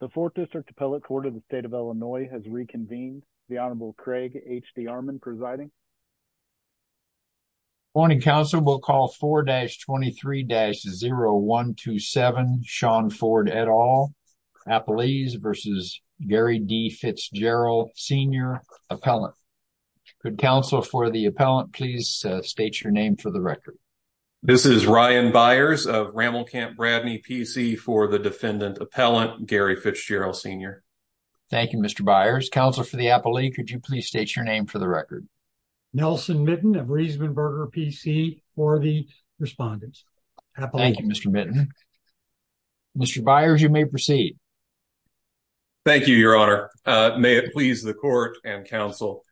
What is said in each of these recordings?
the fourth district appellate court of the state of illinois has reconvened the honorable craig hd armand presiding morning council we'll call 4-23-0127 sean ford et al appellees versus gary d fitzgerald senior appellant good counsel for the appellant please state your name for the record this is ryan byers of rammelkamp bradley pc for the defendant appellant gary fitzgerald senior thank you mr byers counselor for the appellee could you please state your name for the record nelson mitten of riesenberger pc for the respondents thank you mr mitten mr byers you may proceed thank you your honor uh may it please the court and counsel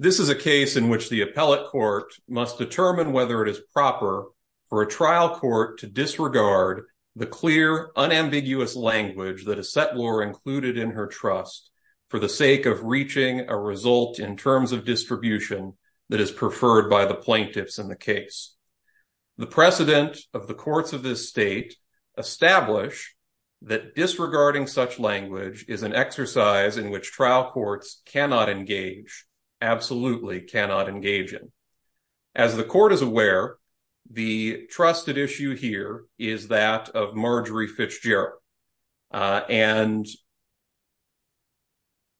this is a case in which the appellate court must determine whether it is proper for a trial court to disregard the clear unambiguous language that a settler included in her trust for the sake of reaching a result in terms of distribution that is preferred by the plaintiffs in the case the precedent of the courts of this state establish that disregarding such language is an exercise in which trial courts cannot engage absolutely cannot engage in as the court is aware the trusted issue here is that of marjorie fitzgerald and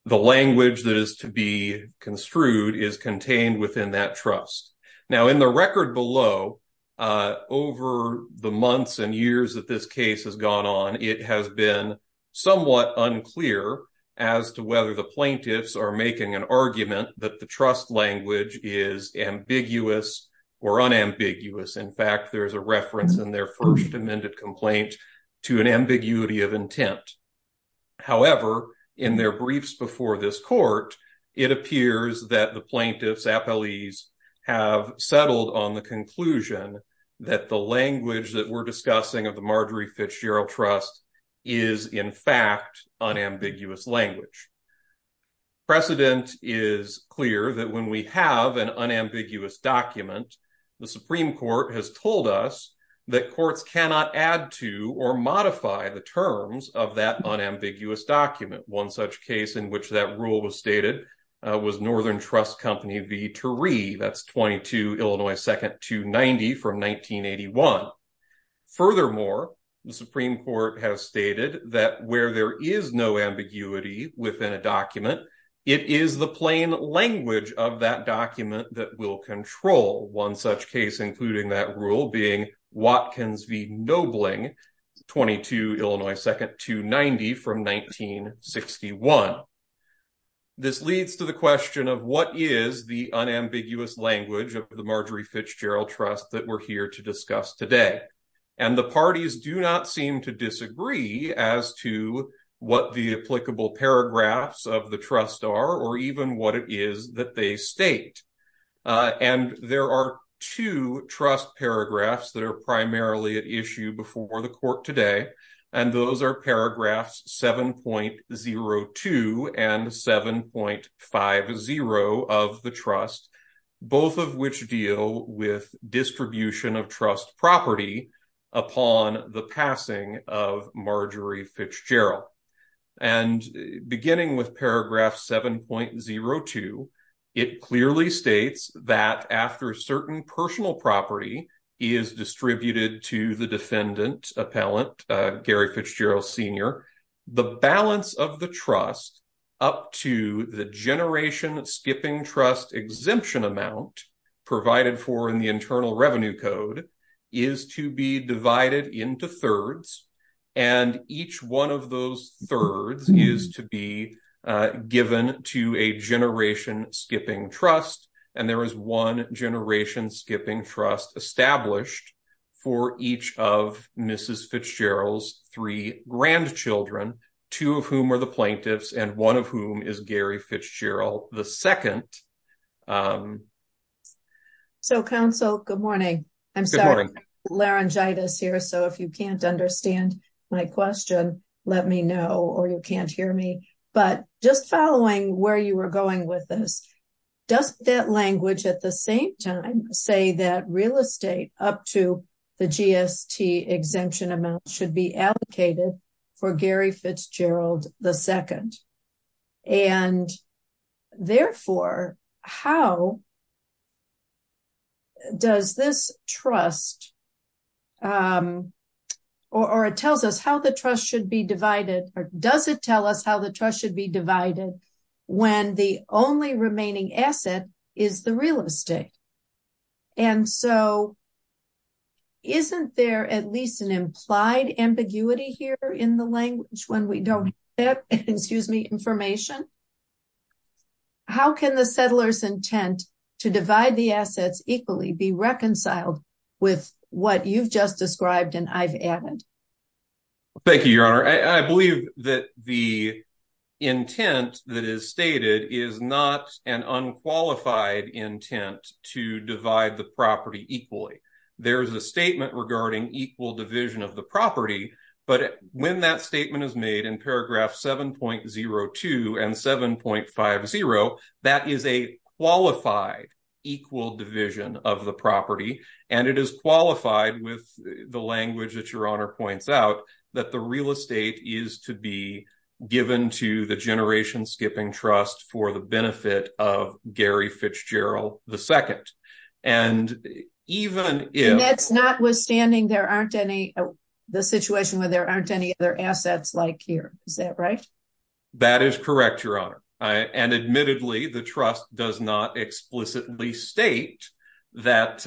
the language that is to be construed is contained within that trust now in the record below uh over the months and years that this case has gone on it has been somewhat unclear as to whether the plaintiffs are making an argument that the trust language is ambiguous or unambiguous in fact there is a reference in their first amended complaint to an ambiguity of intent however in their briefs before this court it appears that the plaintiffs appellees have settled on the conclusion that the language that we're discussing of the marjorie fitzgerald trust is in fact unambiguous language precedent is clear that when we have an unambiguous document the supreme court has told us that courts cannot add to or modify the terms of that unambiguous document one such case in which that rule was stated was northern trust company v 1981 furthermore the supreme court has stated that where there is no ambiguity within a document it is the plain language of that document that will control one such case including that rule being watkins v nobling 22 illinois second 290 from 1961 this leads to the question of what is the unambiguous language of the marjorie fitzgerald trust that we're here to discuss today and the parties do not seem to disagree as to what the applicable paragraphs of the trust are or even what it is that they state and there are two trust paragraphs that are primarily at issue before the court today and those are paragraphs 7.02 and 7.50 of the trust both of which deal with distribution of trust property upon the passing of marjorie fitzgerald and beginning with paragraph 7.02 it clearly states that after certain personal property is distributed to the defendant appellant gary fitzgerald senior the balance of the trust up to the generation skipping trust exemption amount provided for in the internal revenue code is to be divided into thirds and each one of those thirds is to be given to a generation skipping trust and there is one skipping trust established for each of mrs fitzgerald's three grandchildren two of whom are the plaintiffs and one of whom is gary fitzgerald the second um so counsel good morning i'm sorry laryngitis here so if you can't understand my question let me know or you can't understand my question i'm sorry i'm not sure i'm going with this does that language at the same time say that real estate up to the gst exemption amount should be allocated for gary fitzgerald the second and therefore how does this trust um or it tells us how the trust should be divided or does it tell us how the trust should be divided when the only remaining asset is the real estate and so isn't there at least an implied ambiguity here in the language when we don't have that excuse me information how can the settler's intent to divide the assets equally be reconciled with what you've just described and i've added thank you your honor i believe that the intent that is stated is not an unqualified intent to divide the property equally there is a statement regarding equal the property but when that statement is made in paragraph 7.02 and 7.50 that is a qualified equal division of the property and it is qualified with the language that your honor points out that the real estate is to be given to the generation skipping trust for the benefit of the situation where there aren't any other assets like here is that right that is correct your honor i and admittedly the trust does not explicitly state that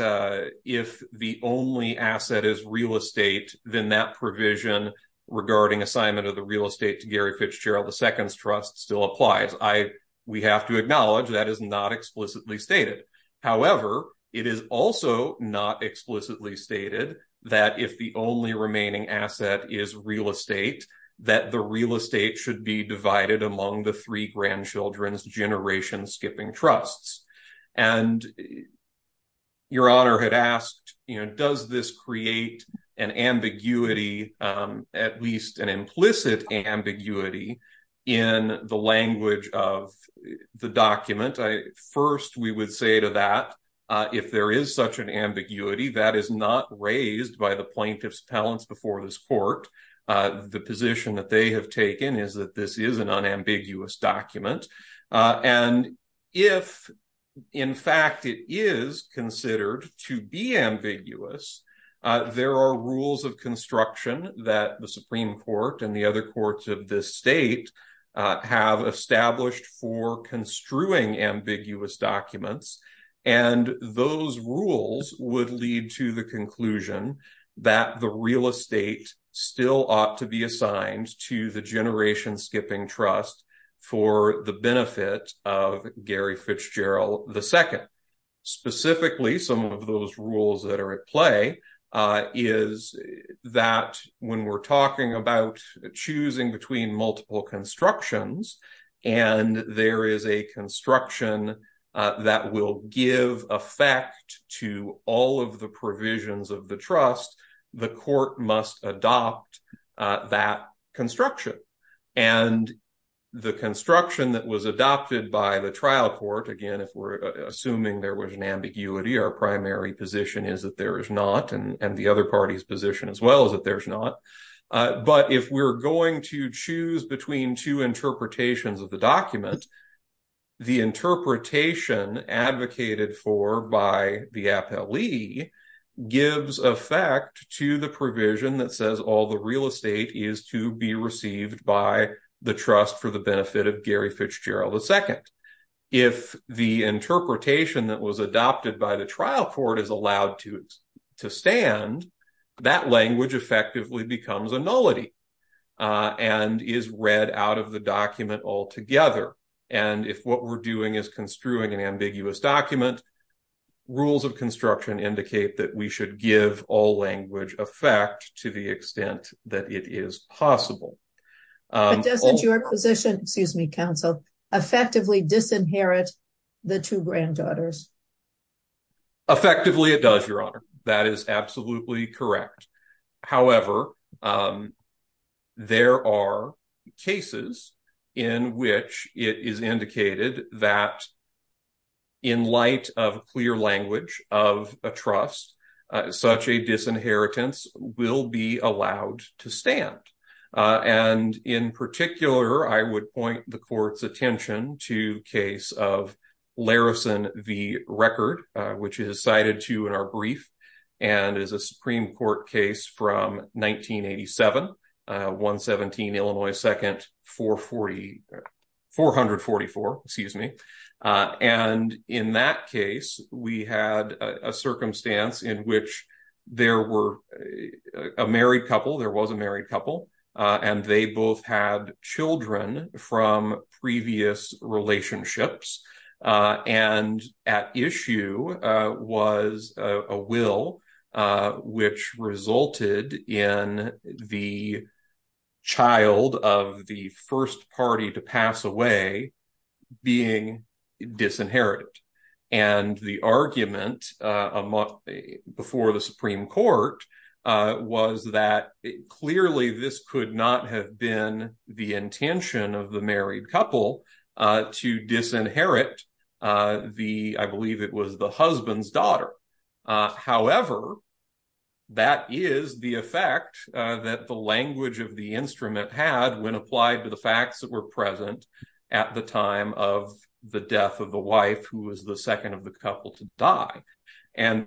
if the only asset is real estate then that provision regarding assignment of the real estate to gary fitzgerald the second's trust still applies i we have to acknowledge that is not explicitly stated however it is also not explicitly stated that if the only remaining asset is real estate that the real estate should be divided among the three grandchildren's generation skipping trusts and your honor had asked you know does this create an ambiguity at least an implicit ambiguity in the language of the document i first we would say to that uh if there is such an ambiguity that is not raised by the plaintiff's palance before this court uh the position that they have taken is that this is an unambiguous document uh and if in fact it is considered to be ambiguous uh there are rules of construction that the supreme court and the other courts of this state have established for construing ambiguous documents and those rules would lead to the conclusion that the real estate still ought to be assigned to the generation skipping trust for the benefit of gary fitzgerald the second specifically some of those rules that are at play uh is that when we're talking about choosing between multiple constructions and there is a construction uh that will give effect to all of the provisions of the trust the court must adopt uh that construction and the construction that was adopted by the trial court again if we're assuming there was an ambiguity our primary position is that there is not and and the other party's position as well as that there's not but if we're going to choose between two interpretations of the document the interpretation advocated for by the appellee gives effect to the provision that says all the the second if the interpretation that was adopted by the trial court is allowed to to stand that language effectively becomes a nullity uh and is read out of the document altogether and if what we're doing is construing an ambiguous document rules of construction indicate that we should give all language effect to the extent that it is possible but doesn't your position excuse me counsel effectively disinherit the two granddaughters effectively it does your honor that is absolutely correct however um there are cases in which it is indicated that in light of clear language of a trust such a disinheritance will be allowed to uh and in particular i would point the court's attention to case of larison v record which is cited to in our brief and is a supreme court case from 1987 uh 117 illinois second 440 444 excuse me uh and in that case we had a circumstance in which there were a married couple there was a married couple and they both had children from previous relationships and at issue was a will which resulted in the child of the first party to pass away being disinherited and the argument uh before the supreme court uh was that clearly this could not have been the intention of the married couple uh to disinherit uh the i believe it was the husband's daughter uh however that is the effect uh that the language of the instrument had when applied to the facts that were present at the time of the death of the wife who was the second of the couple to die and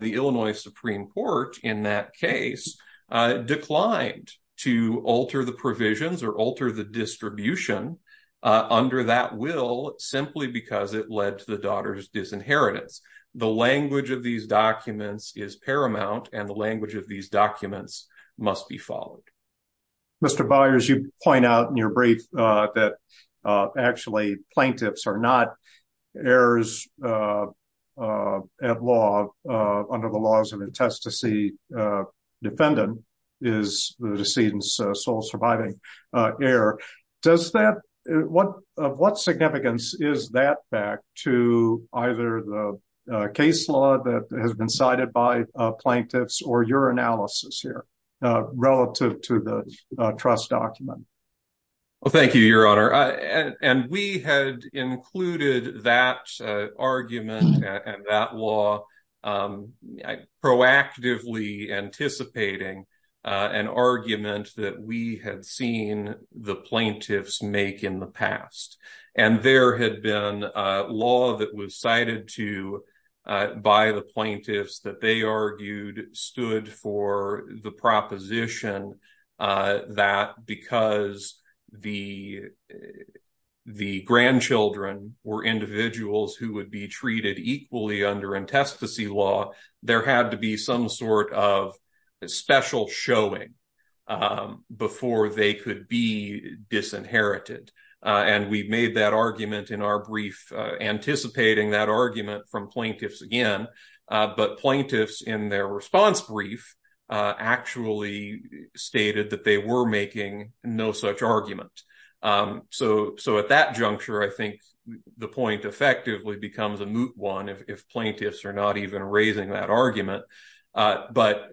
the illinois supreme court in that case uh declined to alter the provisions or alter the distribution uh under that will simply because it led to the daughter's disinheritance the language of these documents is paramount and the language of these documents must be followed mr byers you point out in your brief uh that uh actually plaintiffs are not heirs uh uh at law uh under the laws of intestacy uh defendant is the decedent's sole surviving uh heir does that what of what significance is that back to either the case law that has been cited by uh plaintiffs or your analysis here uh relative to the trust document well thank you your honor and we had included that argument and that law um proactively anticipating uh an argument that we had seen the plaintiffs make in the past and there had been a that was cited to uh by the plaintiffs that they argued stood for the proposition uh that because the the grandchildren were individuals who would be treated equally under intestacy law there had to be some sort of special showing um before they could be disinherited and we made that argument in our brief anticipating that argument from plaintiffs again but plaintiffs in their response brief actually stated that they were making no such argument so so at that juncture i think the point effectively becomes a moot one if plaintiffs are not even raising that argument but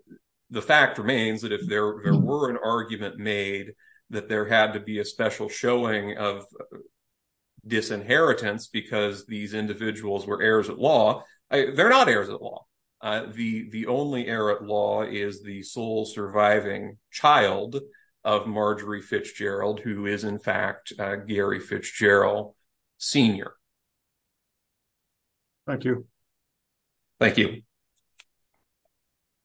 the fact remains that if there were an argument made that there had to be a special showing of disinheritance because these individuals were heirs at law they're not heirs at law uh the the only heir at law is the sole surviving child of marjorie fitzgerald who is in fact gary fitzgerald senior thank you thank you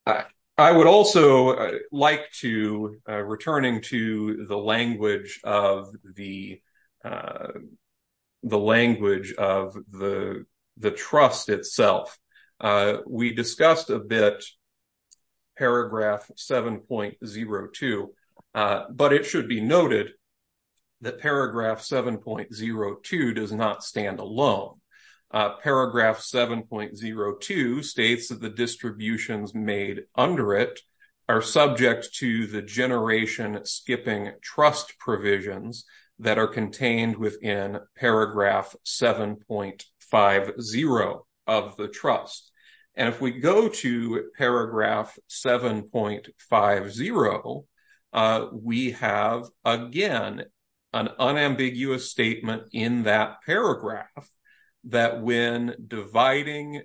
uh i would also like to returning to the language of the uh the language of the the trust itself we discussed a bit paragraph 7.02 but it should be noted that paragraph 7.02 does not stand alone paragraph 7.02 states that the distributions made under it are subject to the generation skipping trust provisions that are contained within paragraph 7.50 of the trust and if we that when dividing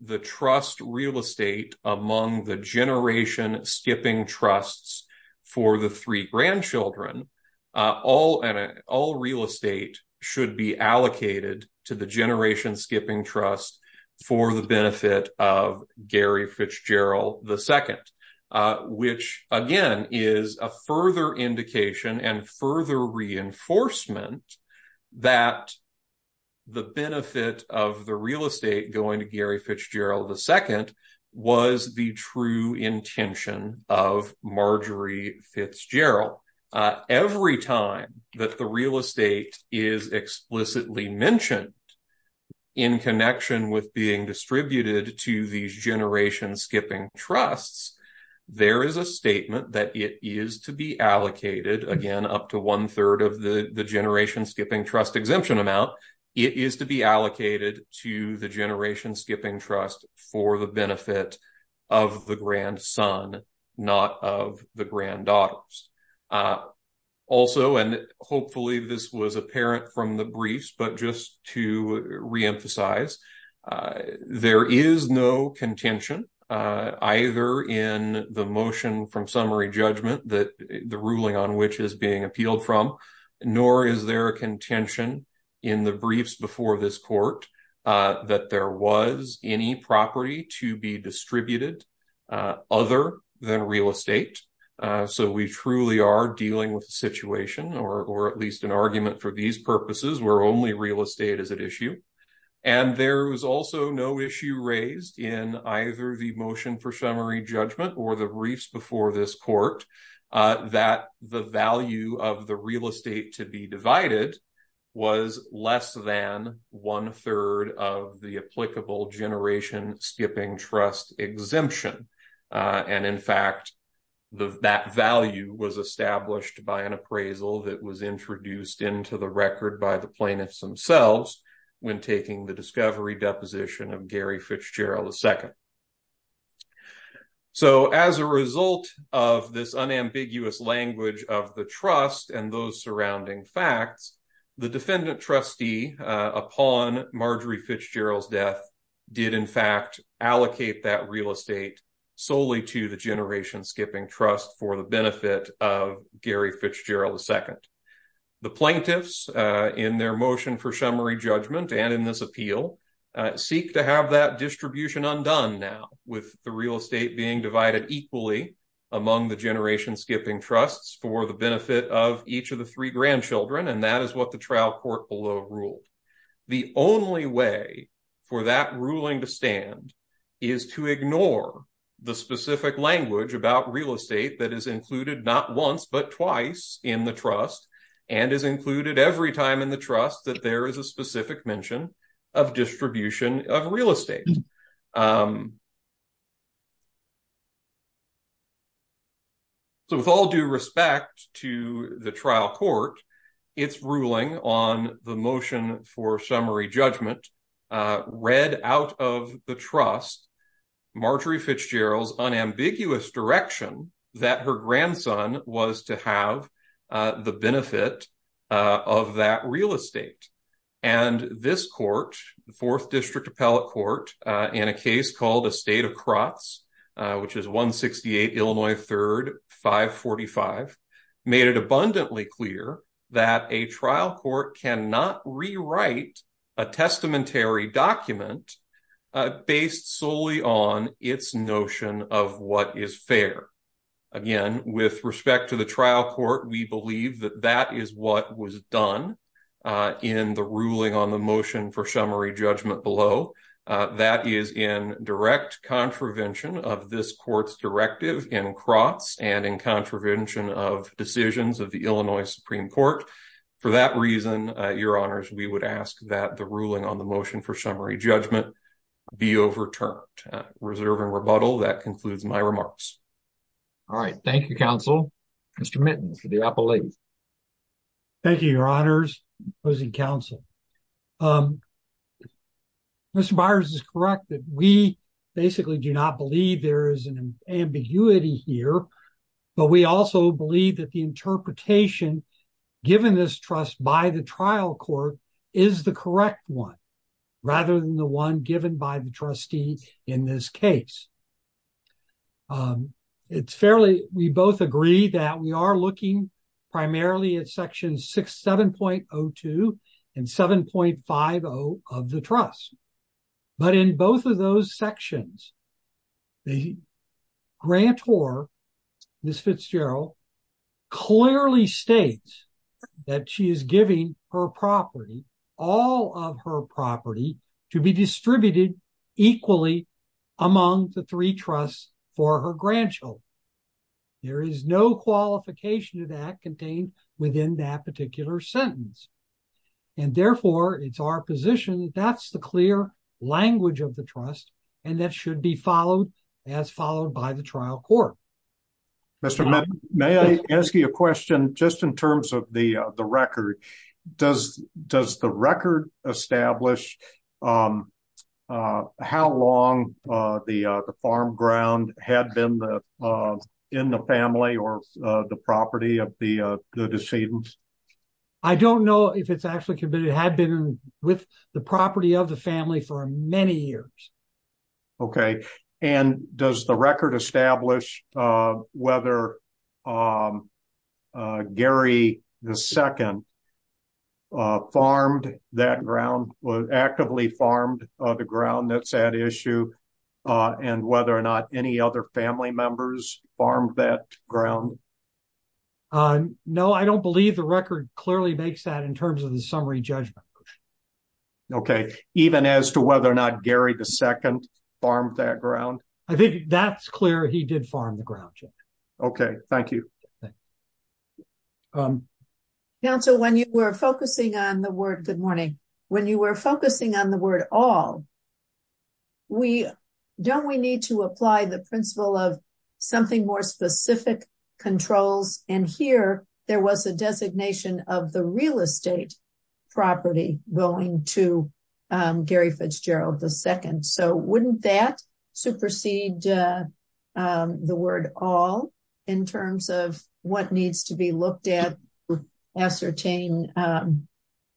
the trust real estate among the generation skipping trusts for the three grandchildren uh all and all real estate should be allocated to the generation skipping trust for the benefit of gary fitzgerald ii which again is a further indication and further reinforcement that the benefit of the real estate going to gary fitzgerald ii was the true intention of marjorie fitzgerald every time that the real estate is explicitly mentioned in connection with being distributed to these generation skipping trusts there is a statement that it is to be allocated again up to one-third of the the generation skipping trust exemption amount it is to be allocated to the generation skipping trust for the benefit of the grandson not of the granddaughters also and hopefully this was apparent from the briefs but just to re-emphasize there is no contention uh either in the motion from summary judgment that the ruling on which is being appealed from nor is there a contention in the briefs before this court uh that there was any property to be distributed uh other than real estate uh so we truly are dealing with a situation or or at least an argument for these purposes where only real estate is at issue and there was also no issue raised in either the motion for summary judgment or the briefs before this court that the value of the real estate to be divided was less than one-third of the applicable generation skipping trust exemption and in fact the that value was established by an appraisal that was of gary fitzgerald ii so as a result of this unambiguous language of the trust and those surrounding facts the defendant trustee upon marjorie fitzgerald's death did in fact allocate that real estate solely to the generation skipping trust for the benefit of gary fitzgerald ii the seek to have that distribution undone now with the real estate being divided equally among the generation skipping trusts for the benefit of each of the three grandchildren and that is what the trial court below ruled the only way for that ruling to stand is to ignore the specific language about real estate that is included not once but twice in the trust and is included every time in trust that there is a specific mention of distribution of real estate so with all due respect to the trial court its ruling on the motion for summary judgment read out of the trust marjorie fitzgerald's unambiguous direction that her grandson was to the benefit of that real estate and this court the fourth district appellate court in a case called a state of crotts which is 168 illinois third 545 made it abundantly clear that a trial court cannot rewrite a testamentary document based solely on its notion of what is again with respect to the trial court we believe that that is what was done in the ruling on the motion for summary judgment below that is in direct contravention of this court's directive in crotts and in contravention of decisions of the illinois supreme court for that reason your honors we would ask that the ruling on the motion for summary judgment be overturned reserve and rebuttal that concludes my remarks all right thank you counsel mr mittens for the appellate thank you your honors opposing counsel um mr byers is correct that we basically do not believe there is an ambiguity here but we also believe that the interpretation given this trust by the trial court is the correct one rather than the one given by the trustee in this case um it's fairly we both agree that we are looking primarily at section 67.02 and 7.50 of the trust but in both of those sections the grantor miss fitzgerald clearly states that she is giving her property all of her property to be distributed equally among the three trusts for her grandchild there is no qualification to that contained within that particular sentence and therefore it's our position that that's the clear language of the trust and that should be followed as followed by the trial court mr may i ask you a question just in terms of the the record does does the record establish um uh how long uh the uh the farm ground had been the uh in the family or uh the property of the uh the decedents i don't know if it's actually committed had been with the property of the many years okay and does the record establish uh whether um uh gary the second uh farmed that ground was actively farmed on the ground that's at issue uh and whether or not any other family members farmed that ground uh no i don't believe the record clearly makes that in terms of the summary judgment okay even as to whether or not gary the second farmed that ground i think that's clear he did farm the ground okay thank you um now so when you were focusing on the word good morning when you were focusing on the word all we don't we need to apply the principle of something more controls and here there was a designation of the real estate property going to um gary fitzgerald the second so wouldn't that supersede uh um the word all in terms of what needs to be looked at ascertain um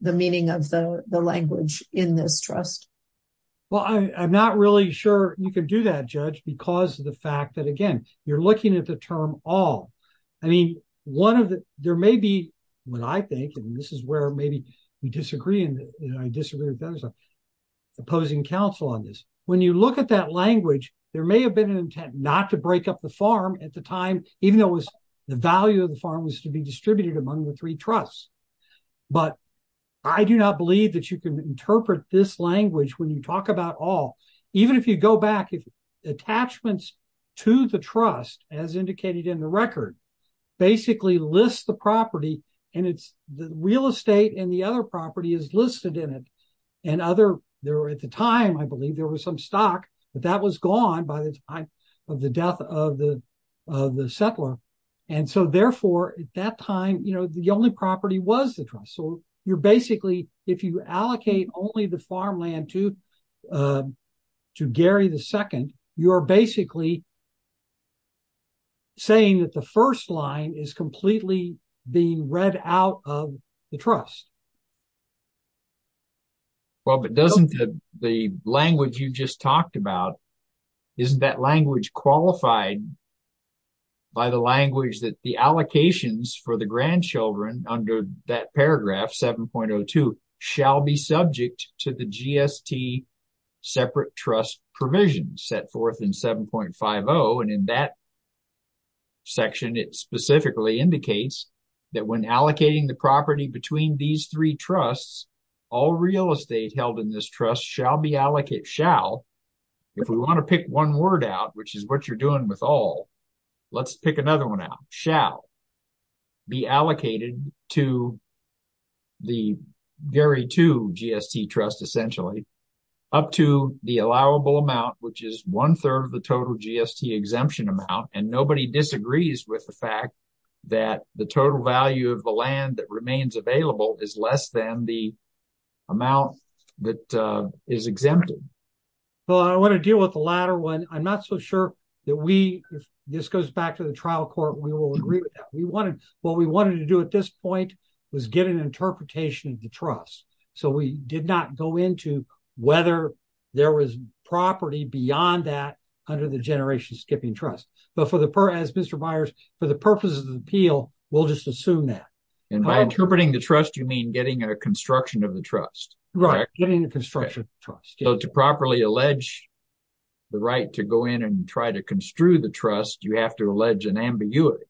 the meaning of the the language in this trust well i i'm not really sure you could do that judge because of the fact that again you're looking at the term all i mean one of the there may be what i think and this is where maybe we disagree and i disagree with those opposing counsel on this when you look at that language there may have been an intent not to break up the farm at the time even though it was the value of the farm was to be distributed among the three trusts but i do not believe that you can interpret this language when you talk about all even if you go back if attachments to the trust as indicated in the record basically lists the property and it's the real estate and the other property is listed in it and other there at the time i believe there was some stock but that was gone by the time of the death of the of the settler and so therefore at that time you know the only property was the trust so you're basically if you allocate only the farmland to uh to gary the second you're basically saying that the first line is completely being read out of the trust well but doesn't the language you just talked about isn't that language qualified by the language that the allocations for the grandchildren under that paragraph 7.02 shall be subject to the gst separate trust provision set forth in 7.50 and in that section it specifically indicates that when allocating the property between these three trusts all real estate held in this trust shall be allocated shall if we want to pick one word out which is what you're doing with all let's pick another one out shall be allocated to the very two gst trust essentially up to the allowable amount which is one third of the total gst exemption amount and nobody disagrees with the fact that the total value of the land that remains available is less than the amount that uh is exempted well i want to deal with the latter one i'm not so sure that we if this goes back to the trial court we will agree with that we wanted what we wanted to do at this point was get an interpretation of the trust so we did not go into whether there was property beyond that under the generation skipping trust but for the per as mr byers for the purpose of the appeal we'll just assume that and by interpreting the trust you mean getting a construction of the trust right getting the construction trust so to properly allege the right to go in and try to construe the trust you have to allege an ambiguity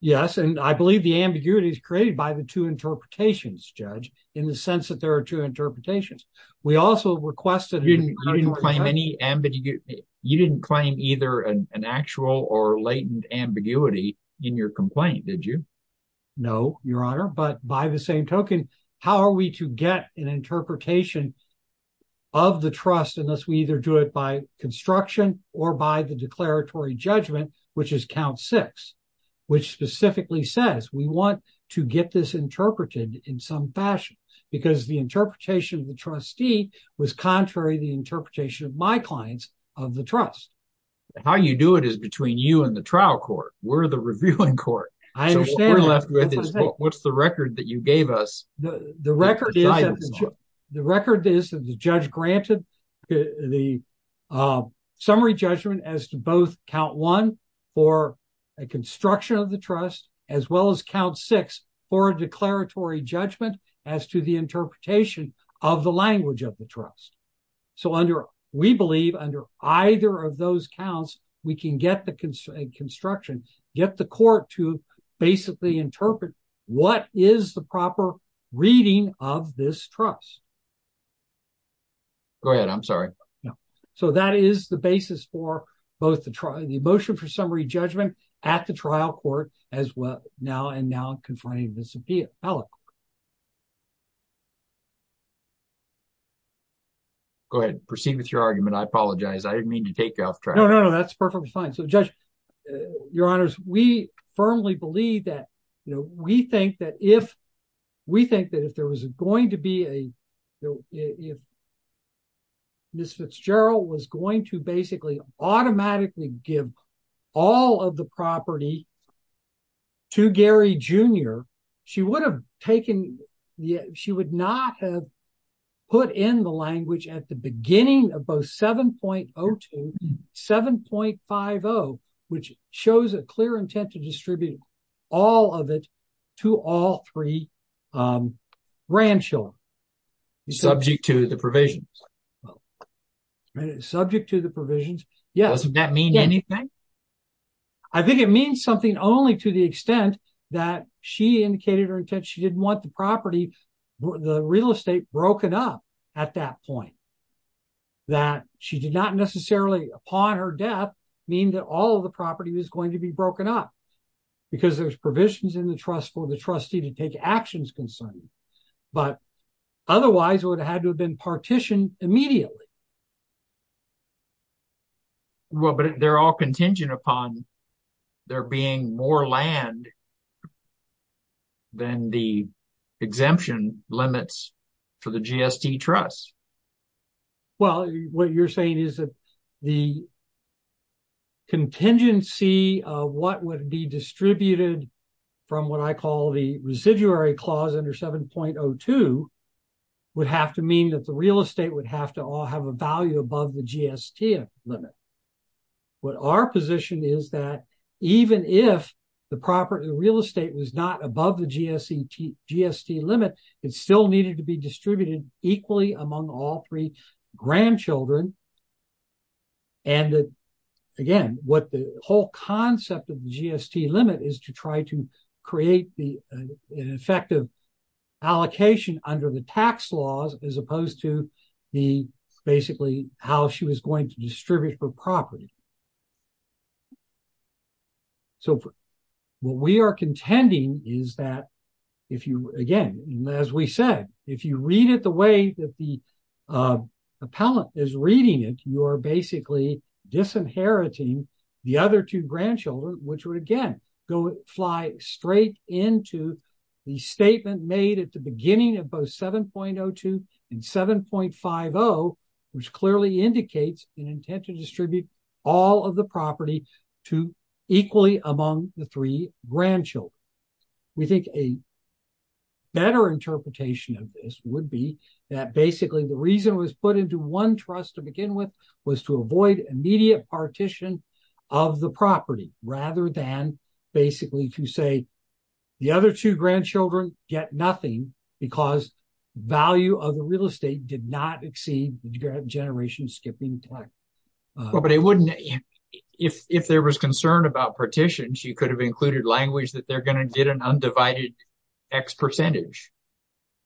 yes and i believe the ambiguity is created by the two interpretations judge in the sense that there are two interpretations we also requested you didn't claim any ambiguity you didn't claim either an actual or latent ambiguity in your complaint did you no your how are we to get an interpretation of the trust unless we either do it by construction or by the declaratory judgment which is count six which specifically says we want to get this interpreted in some fashion because the interpretation of the trustee was contrary the interpretation of my clients of the trust how you do it is between you and the trial court we're the reviewing court i understand what's the record that you gave us the record the record is that the judge granted the summary judgment as to both count one for a construction of the trust as well as count six for a declaratory judgment as to the interpretation of the language of the trust so under we believe under either of those counts we can get the construction get the court to basically interpret what is the proper reading of this trust go ahead i'm sorry no so that is the basis for both the trial the motion for summary judgment at the trial court as well now and now confronting go ahead proceed with your argument i apologize i didn't mean to take you off track no no that's perfectly fine so judge your honors we firmly believe that you know we think that if we think that if there was going to be a you know if miss fitzgerald was going to basically automatically give all of the property to gary jr she would have taken she would not have put in the language at the beginning of both 7.02 7.50 which shows a clear intent to distribute all of it to all three grandchildren subject to the provisions subject to the provisions yes doesn't that mean anything i think it means something only to the extent that she indicated her intent she didn't want the property the real estate broken up at that point that she did not necessarily upon her death mean that all the property was going to be broken up because there's provisions in the trust for the consent but otherwise it would have had to have been partitioned immediately well but they're all contingent upon there being more land than the exemption limits for the gst trust well what you're saying is that the under 7.02 would have to mean that the real estate would have to all have a value above the gst limit what our position is that even if the property real estate was not above the gst gst limit it still needed to be distributed equally among all three grandchildren and that again what the whole concept of the gst limit is to try to create the an effective allocation under the tax laws as opposed to the basically how she was going to distribute her property so what we are contending is that if you again as we said if you read it that the appellant is reading it you are basically disinheriting the other two grandchildren which would again go fly straight into the statement made at the beginning of both 7.02 and 7.50 which clearly indicates an intent to distribute all of the property to equally among the three grandchildren we think a better interpretation of this would be that basically the reason was put into one trust to begin with was to avoid immediate partition of the property rather than basically to say the other two grandchildren get nothing because value of the real estate did not exceed the generation skipping plaque well but it wouldn't if if there was concern about partitions you could have included language that they're going to get an undivided x percentage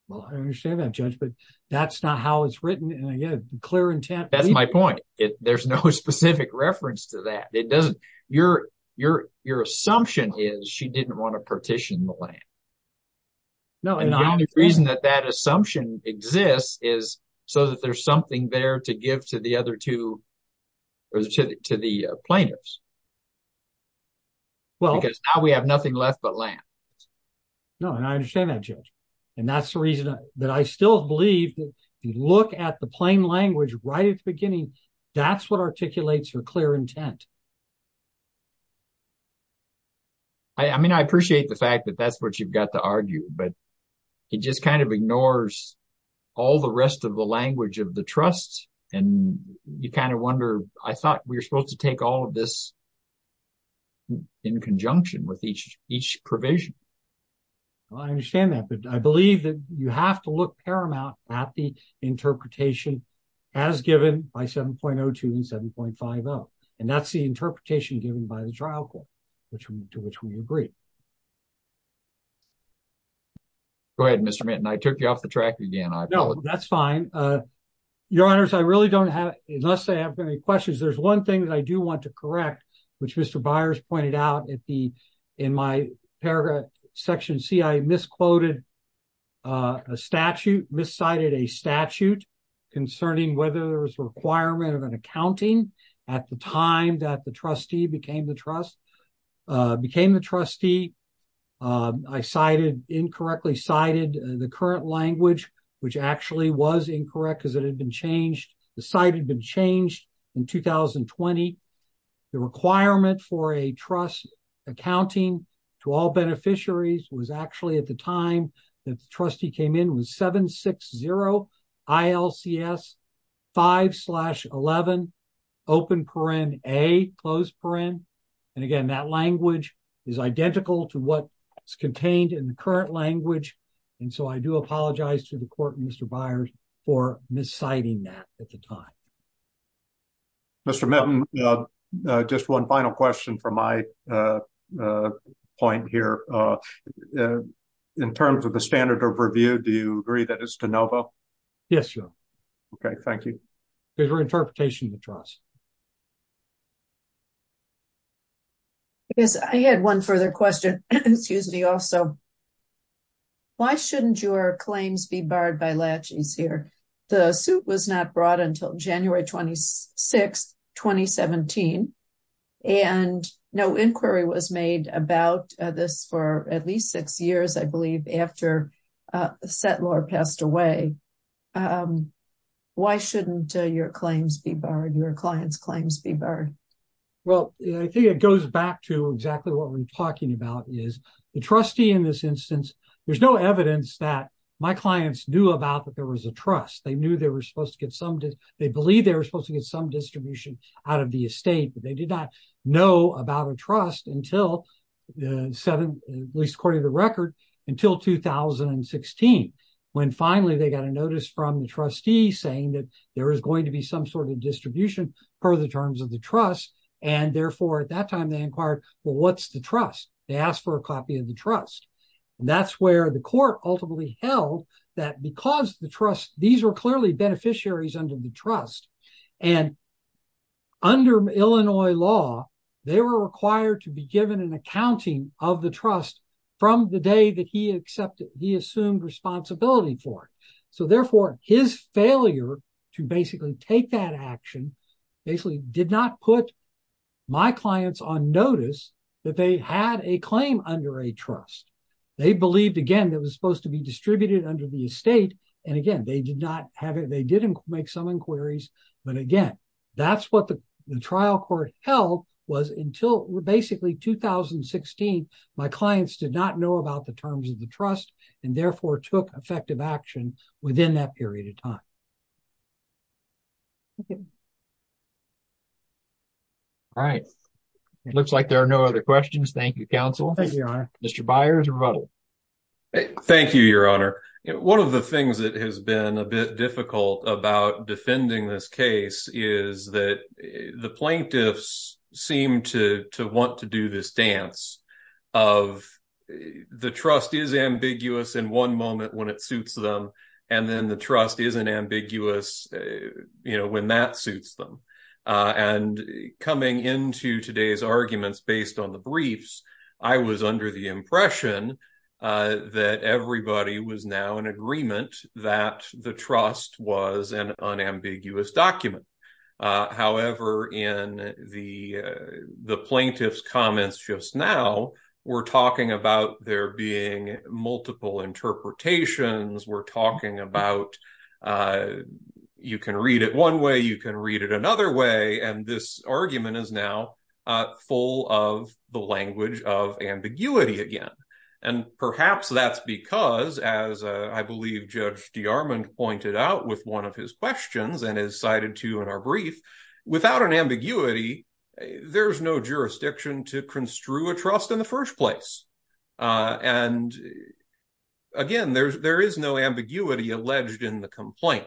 well i understand that judge but that's not how it's written and again clear intent that's my point it there's no specific reference to that it doesn't your your your assumption is she didn't want to partition the land no and the only reason that that assumption exists is so that there's well because now we have nothing left but land no and i understand that judge and that's the reason that i still believe that if you look at the plain language right at the beginning that's what articulates your clear intent i mean i appreciate the fact that that's what you've got to argue but he just kind of ignores all the rest of the language of the trust and you kind of wonder i thought we were supposed to take all of this in conjunction with each each provision well i understand that but i believe that you have to look paramount at the interpretation as given by 7.02 and 7.50 and that's the interpretation given by the trial court which to which we agree go ahead mr minton i took you off the track again no that's fine uh your honors i really don't have unless they have any questions there's one thing that i do want to correct which mr byers pointed out at the in my paragraph section c i misquoted uh a statute miscited a statute concerning whether there was a requirement of an accounting at the time that the trustee became the trust uh became the trustee uh i cited incorrectly cited the current language which actually was incorrect because it had been changed the site had been changed in 2020 the requirement for a trust accounting to all beneficiaries was actually at the time that the trustee came in was 7 6 0 i l c s 5 11 open paren a closed paren and again that language is identical to what's contained in the current language and so i do apologize to the court mr byers for misciting that at the time mr minton uh just one final question for my uh uh point here uh in terms of the standard of review do you agree that it's de novo yes sure okay thank you for interpretation of the trust um yes i had one further question excuse me also why shouldn't your claims be barred by latches here the suit was not brought until january 26 2017 and no inquiry was made about this for at least six years i believe after uh settler passed away um why shouldn't your claims be barred your clients claims be barred well i think it goes back to exactly what we're talking about is the trustee in this instance there's no evidence that my clients knew about that there was a trust they knew they were supposed to get some they believe they were supposed to get some distribution out of the estate but they did not know about a trust until the seven at least according to record until 2016 when finally they got a notice from the trustee saying that there is going to be some sort of distribution per the terms of the trust and therefore at that time they inquired well what's the trust they asked for a copy of the trust and that's where the court ultimately held that because the trust these were clearly beneficiaries under the trust and under illinois law they were required to be given an accounting of the trust from the day that he accepted he take that action basically did not put my clients on notice that they had a claim under a trust they believed again that was supposed to be distributed under the estate and again they did not have it they didn't make some inquiries but again that's what the trial court held was until basically 2016 my clients did not know about the terms of the trust and therefore took effective action within that period of time okay all right it looks like there are no other questions thank you counsel thank you your honor mr byers rebuttal thank you your honor one of the things that has been a bit difficult about defending this case is that the plaintiffs seem to to want to do this dance of the trust is ambiguous in one moment when it suits them and then the trust isn't ambiguous you know when that suits them and coming into today's arguments based on the briefs i was under the impression that everybody was now in agreement that the trust was an unambiguous document uh however in the the plaintiff's comments just now we're talking about there being multiple interpretations we're talking about uh you can read it one way you can read it another way and this argument is now uh full of the language of ambiguity again and perhaps that's as i believe judge dearmond pointed out with one of his questions and is cited to in our brief without an ambiguity there's no jurisdiction to construe a trust in the first place and again there's there is no ambiguity alleged in the complaint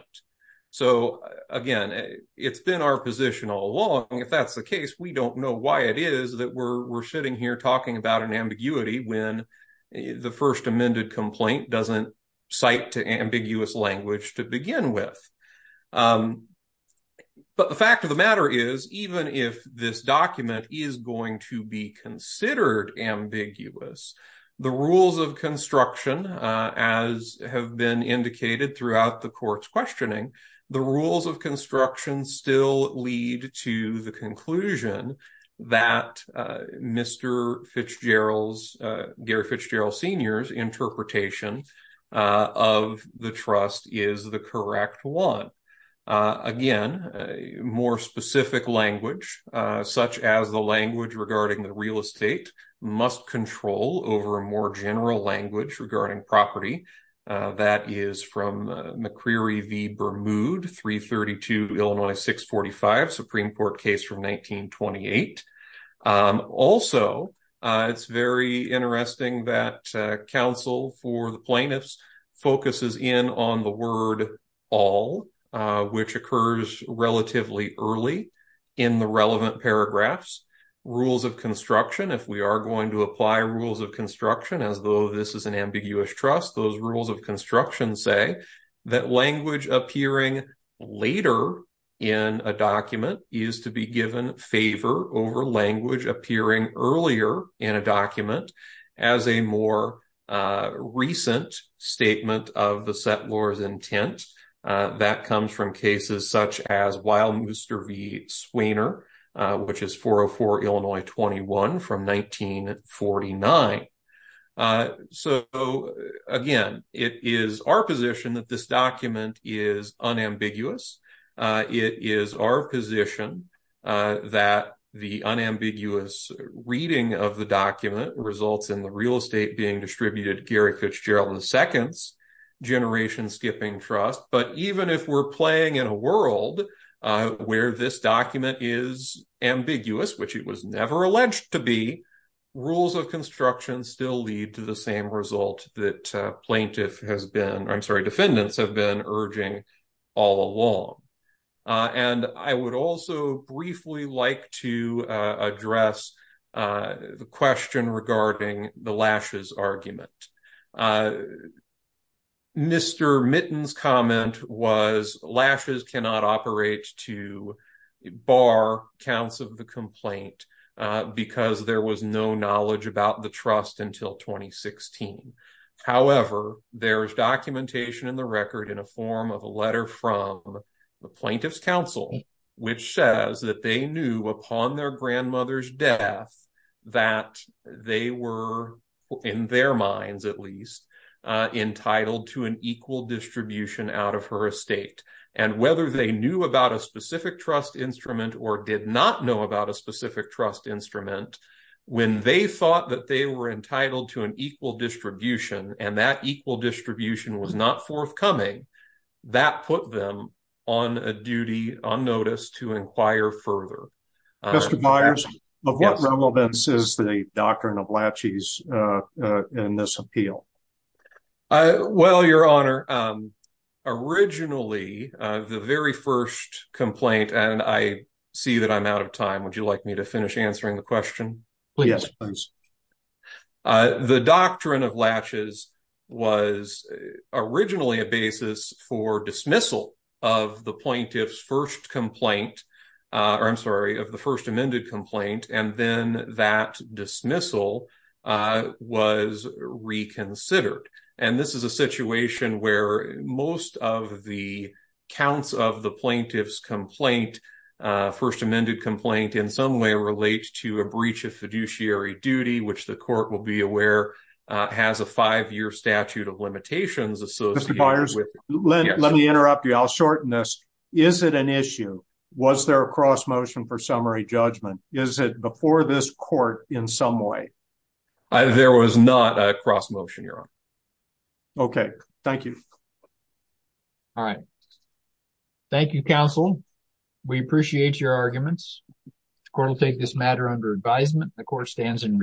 so again it's been our position all along if that's the case we don't know why it is that we're we're sitting here talking about an doesn't cite to ambiguous language to begin with um but the fact of the matter is even if this document is going to be considered ambiguous the rules of construction uh as have been indicated throughout the court's questioning the rules of construction still lead to the conclusion that uh mr fitzgerald's uh gary fitzgerald senior's interpretation uh of the trust is the correct one uh again more specific language uh such as the language regarding the real estate must control over a more general language regarding property that is from mccreary v bermud 332 illinois 645 supreme court case from 1928 also it's very interesting that council for the plaintiffs focuses in on the word all which occurs relatively early in the relevant paragraphs rules of construction if we are going to apply rules of construction as though this is an ambiguous trust those rules of construction say that language appearing later in a document is to be given favor over language appearing earlier in a document as a more uh recent statement of the settlor's intent that comes from cases such as wild mooster v swainer which is 404 illinois 21 from 1949 uh so again it is our position that this document is unambiguous uh it is our position uh that the unambiguous reading of the document results in the real estate being distributed gary fitzgerald and the second generation skipping trust but even if we're playing in a world uh where this document is ambiguous which it was never alleged to be rules of construction still lead to the same result that plaintiff has been i'm sorry defendants have been urging all along and i would also briefly like to address uh the question regarding the lashes argument uh mr mittens comment was lashes cannot operate to bar counts of the complaint because there was no knowledge about the trust until 2016 however there's documentation in the record in a form of a letter from the plaintiff's council which says that they knew upon their grandmother's death that they were in their minds at least entitled to an equal distribution out of her estate and whether they knew about a specific trust instrument or did not know about a specific trust instrument when they thought that they were entitled to an equal distribution and that equal distribution was not forthcoming that put them on a duty on notice to inquire further justifiers of what relevance is the doctrine of latches uh in this appeal uh well your honor um originally uh the very first complaint and i see that i'm out of time would you like me to finish answering the question please yes please uh the doctrine of the plaintiff's first complaint uh or i'm sorry of the first amended complaint and then that dismissal uh was reconsidered and this is a situation where most of the counts of the plaintiff's complaint uh first amended complaint in some way relates to a breach of fiduciary duty which the court will be aware uh has a five-year statute of limitations associated with let me interrupt you is it an issue was there a cross motion for summary judgment is it before this court in some way there was not a cross motion your honor okay thank you all right thank you counsel we appreciate your arguments the court will take this matter under advisement the court stands in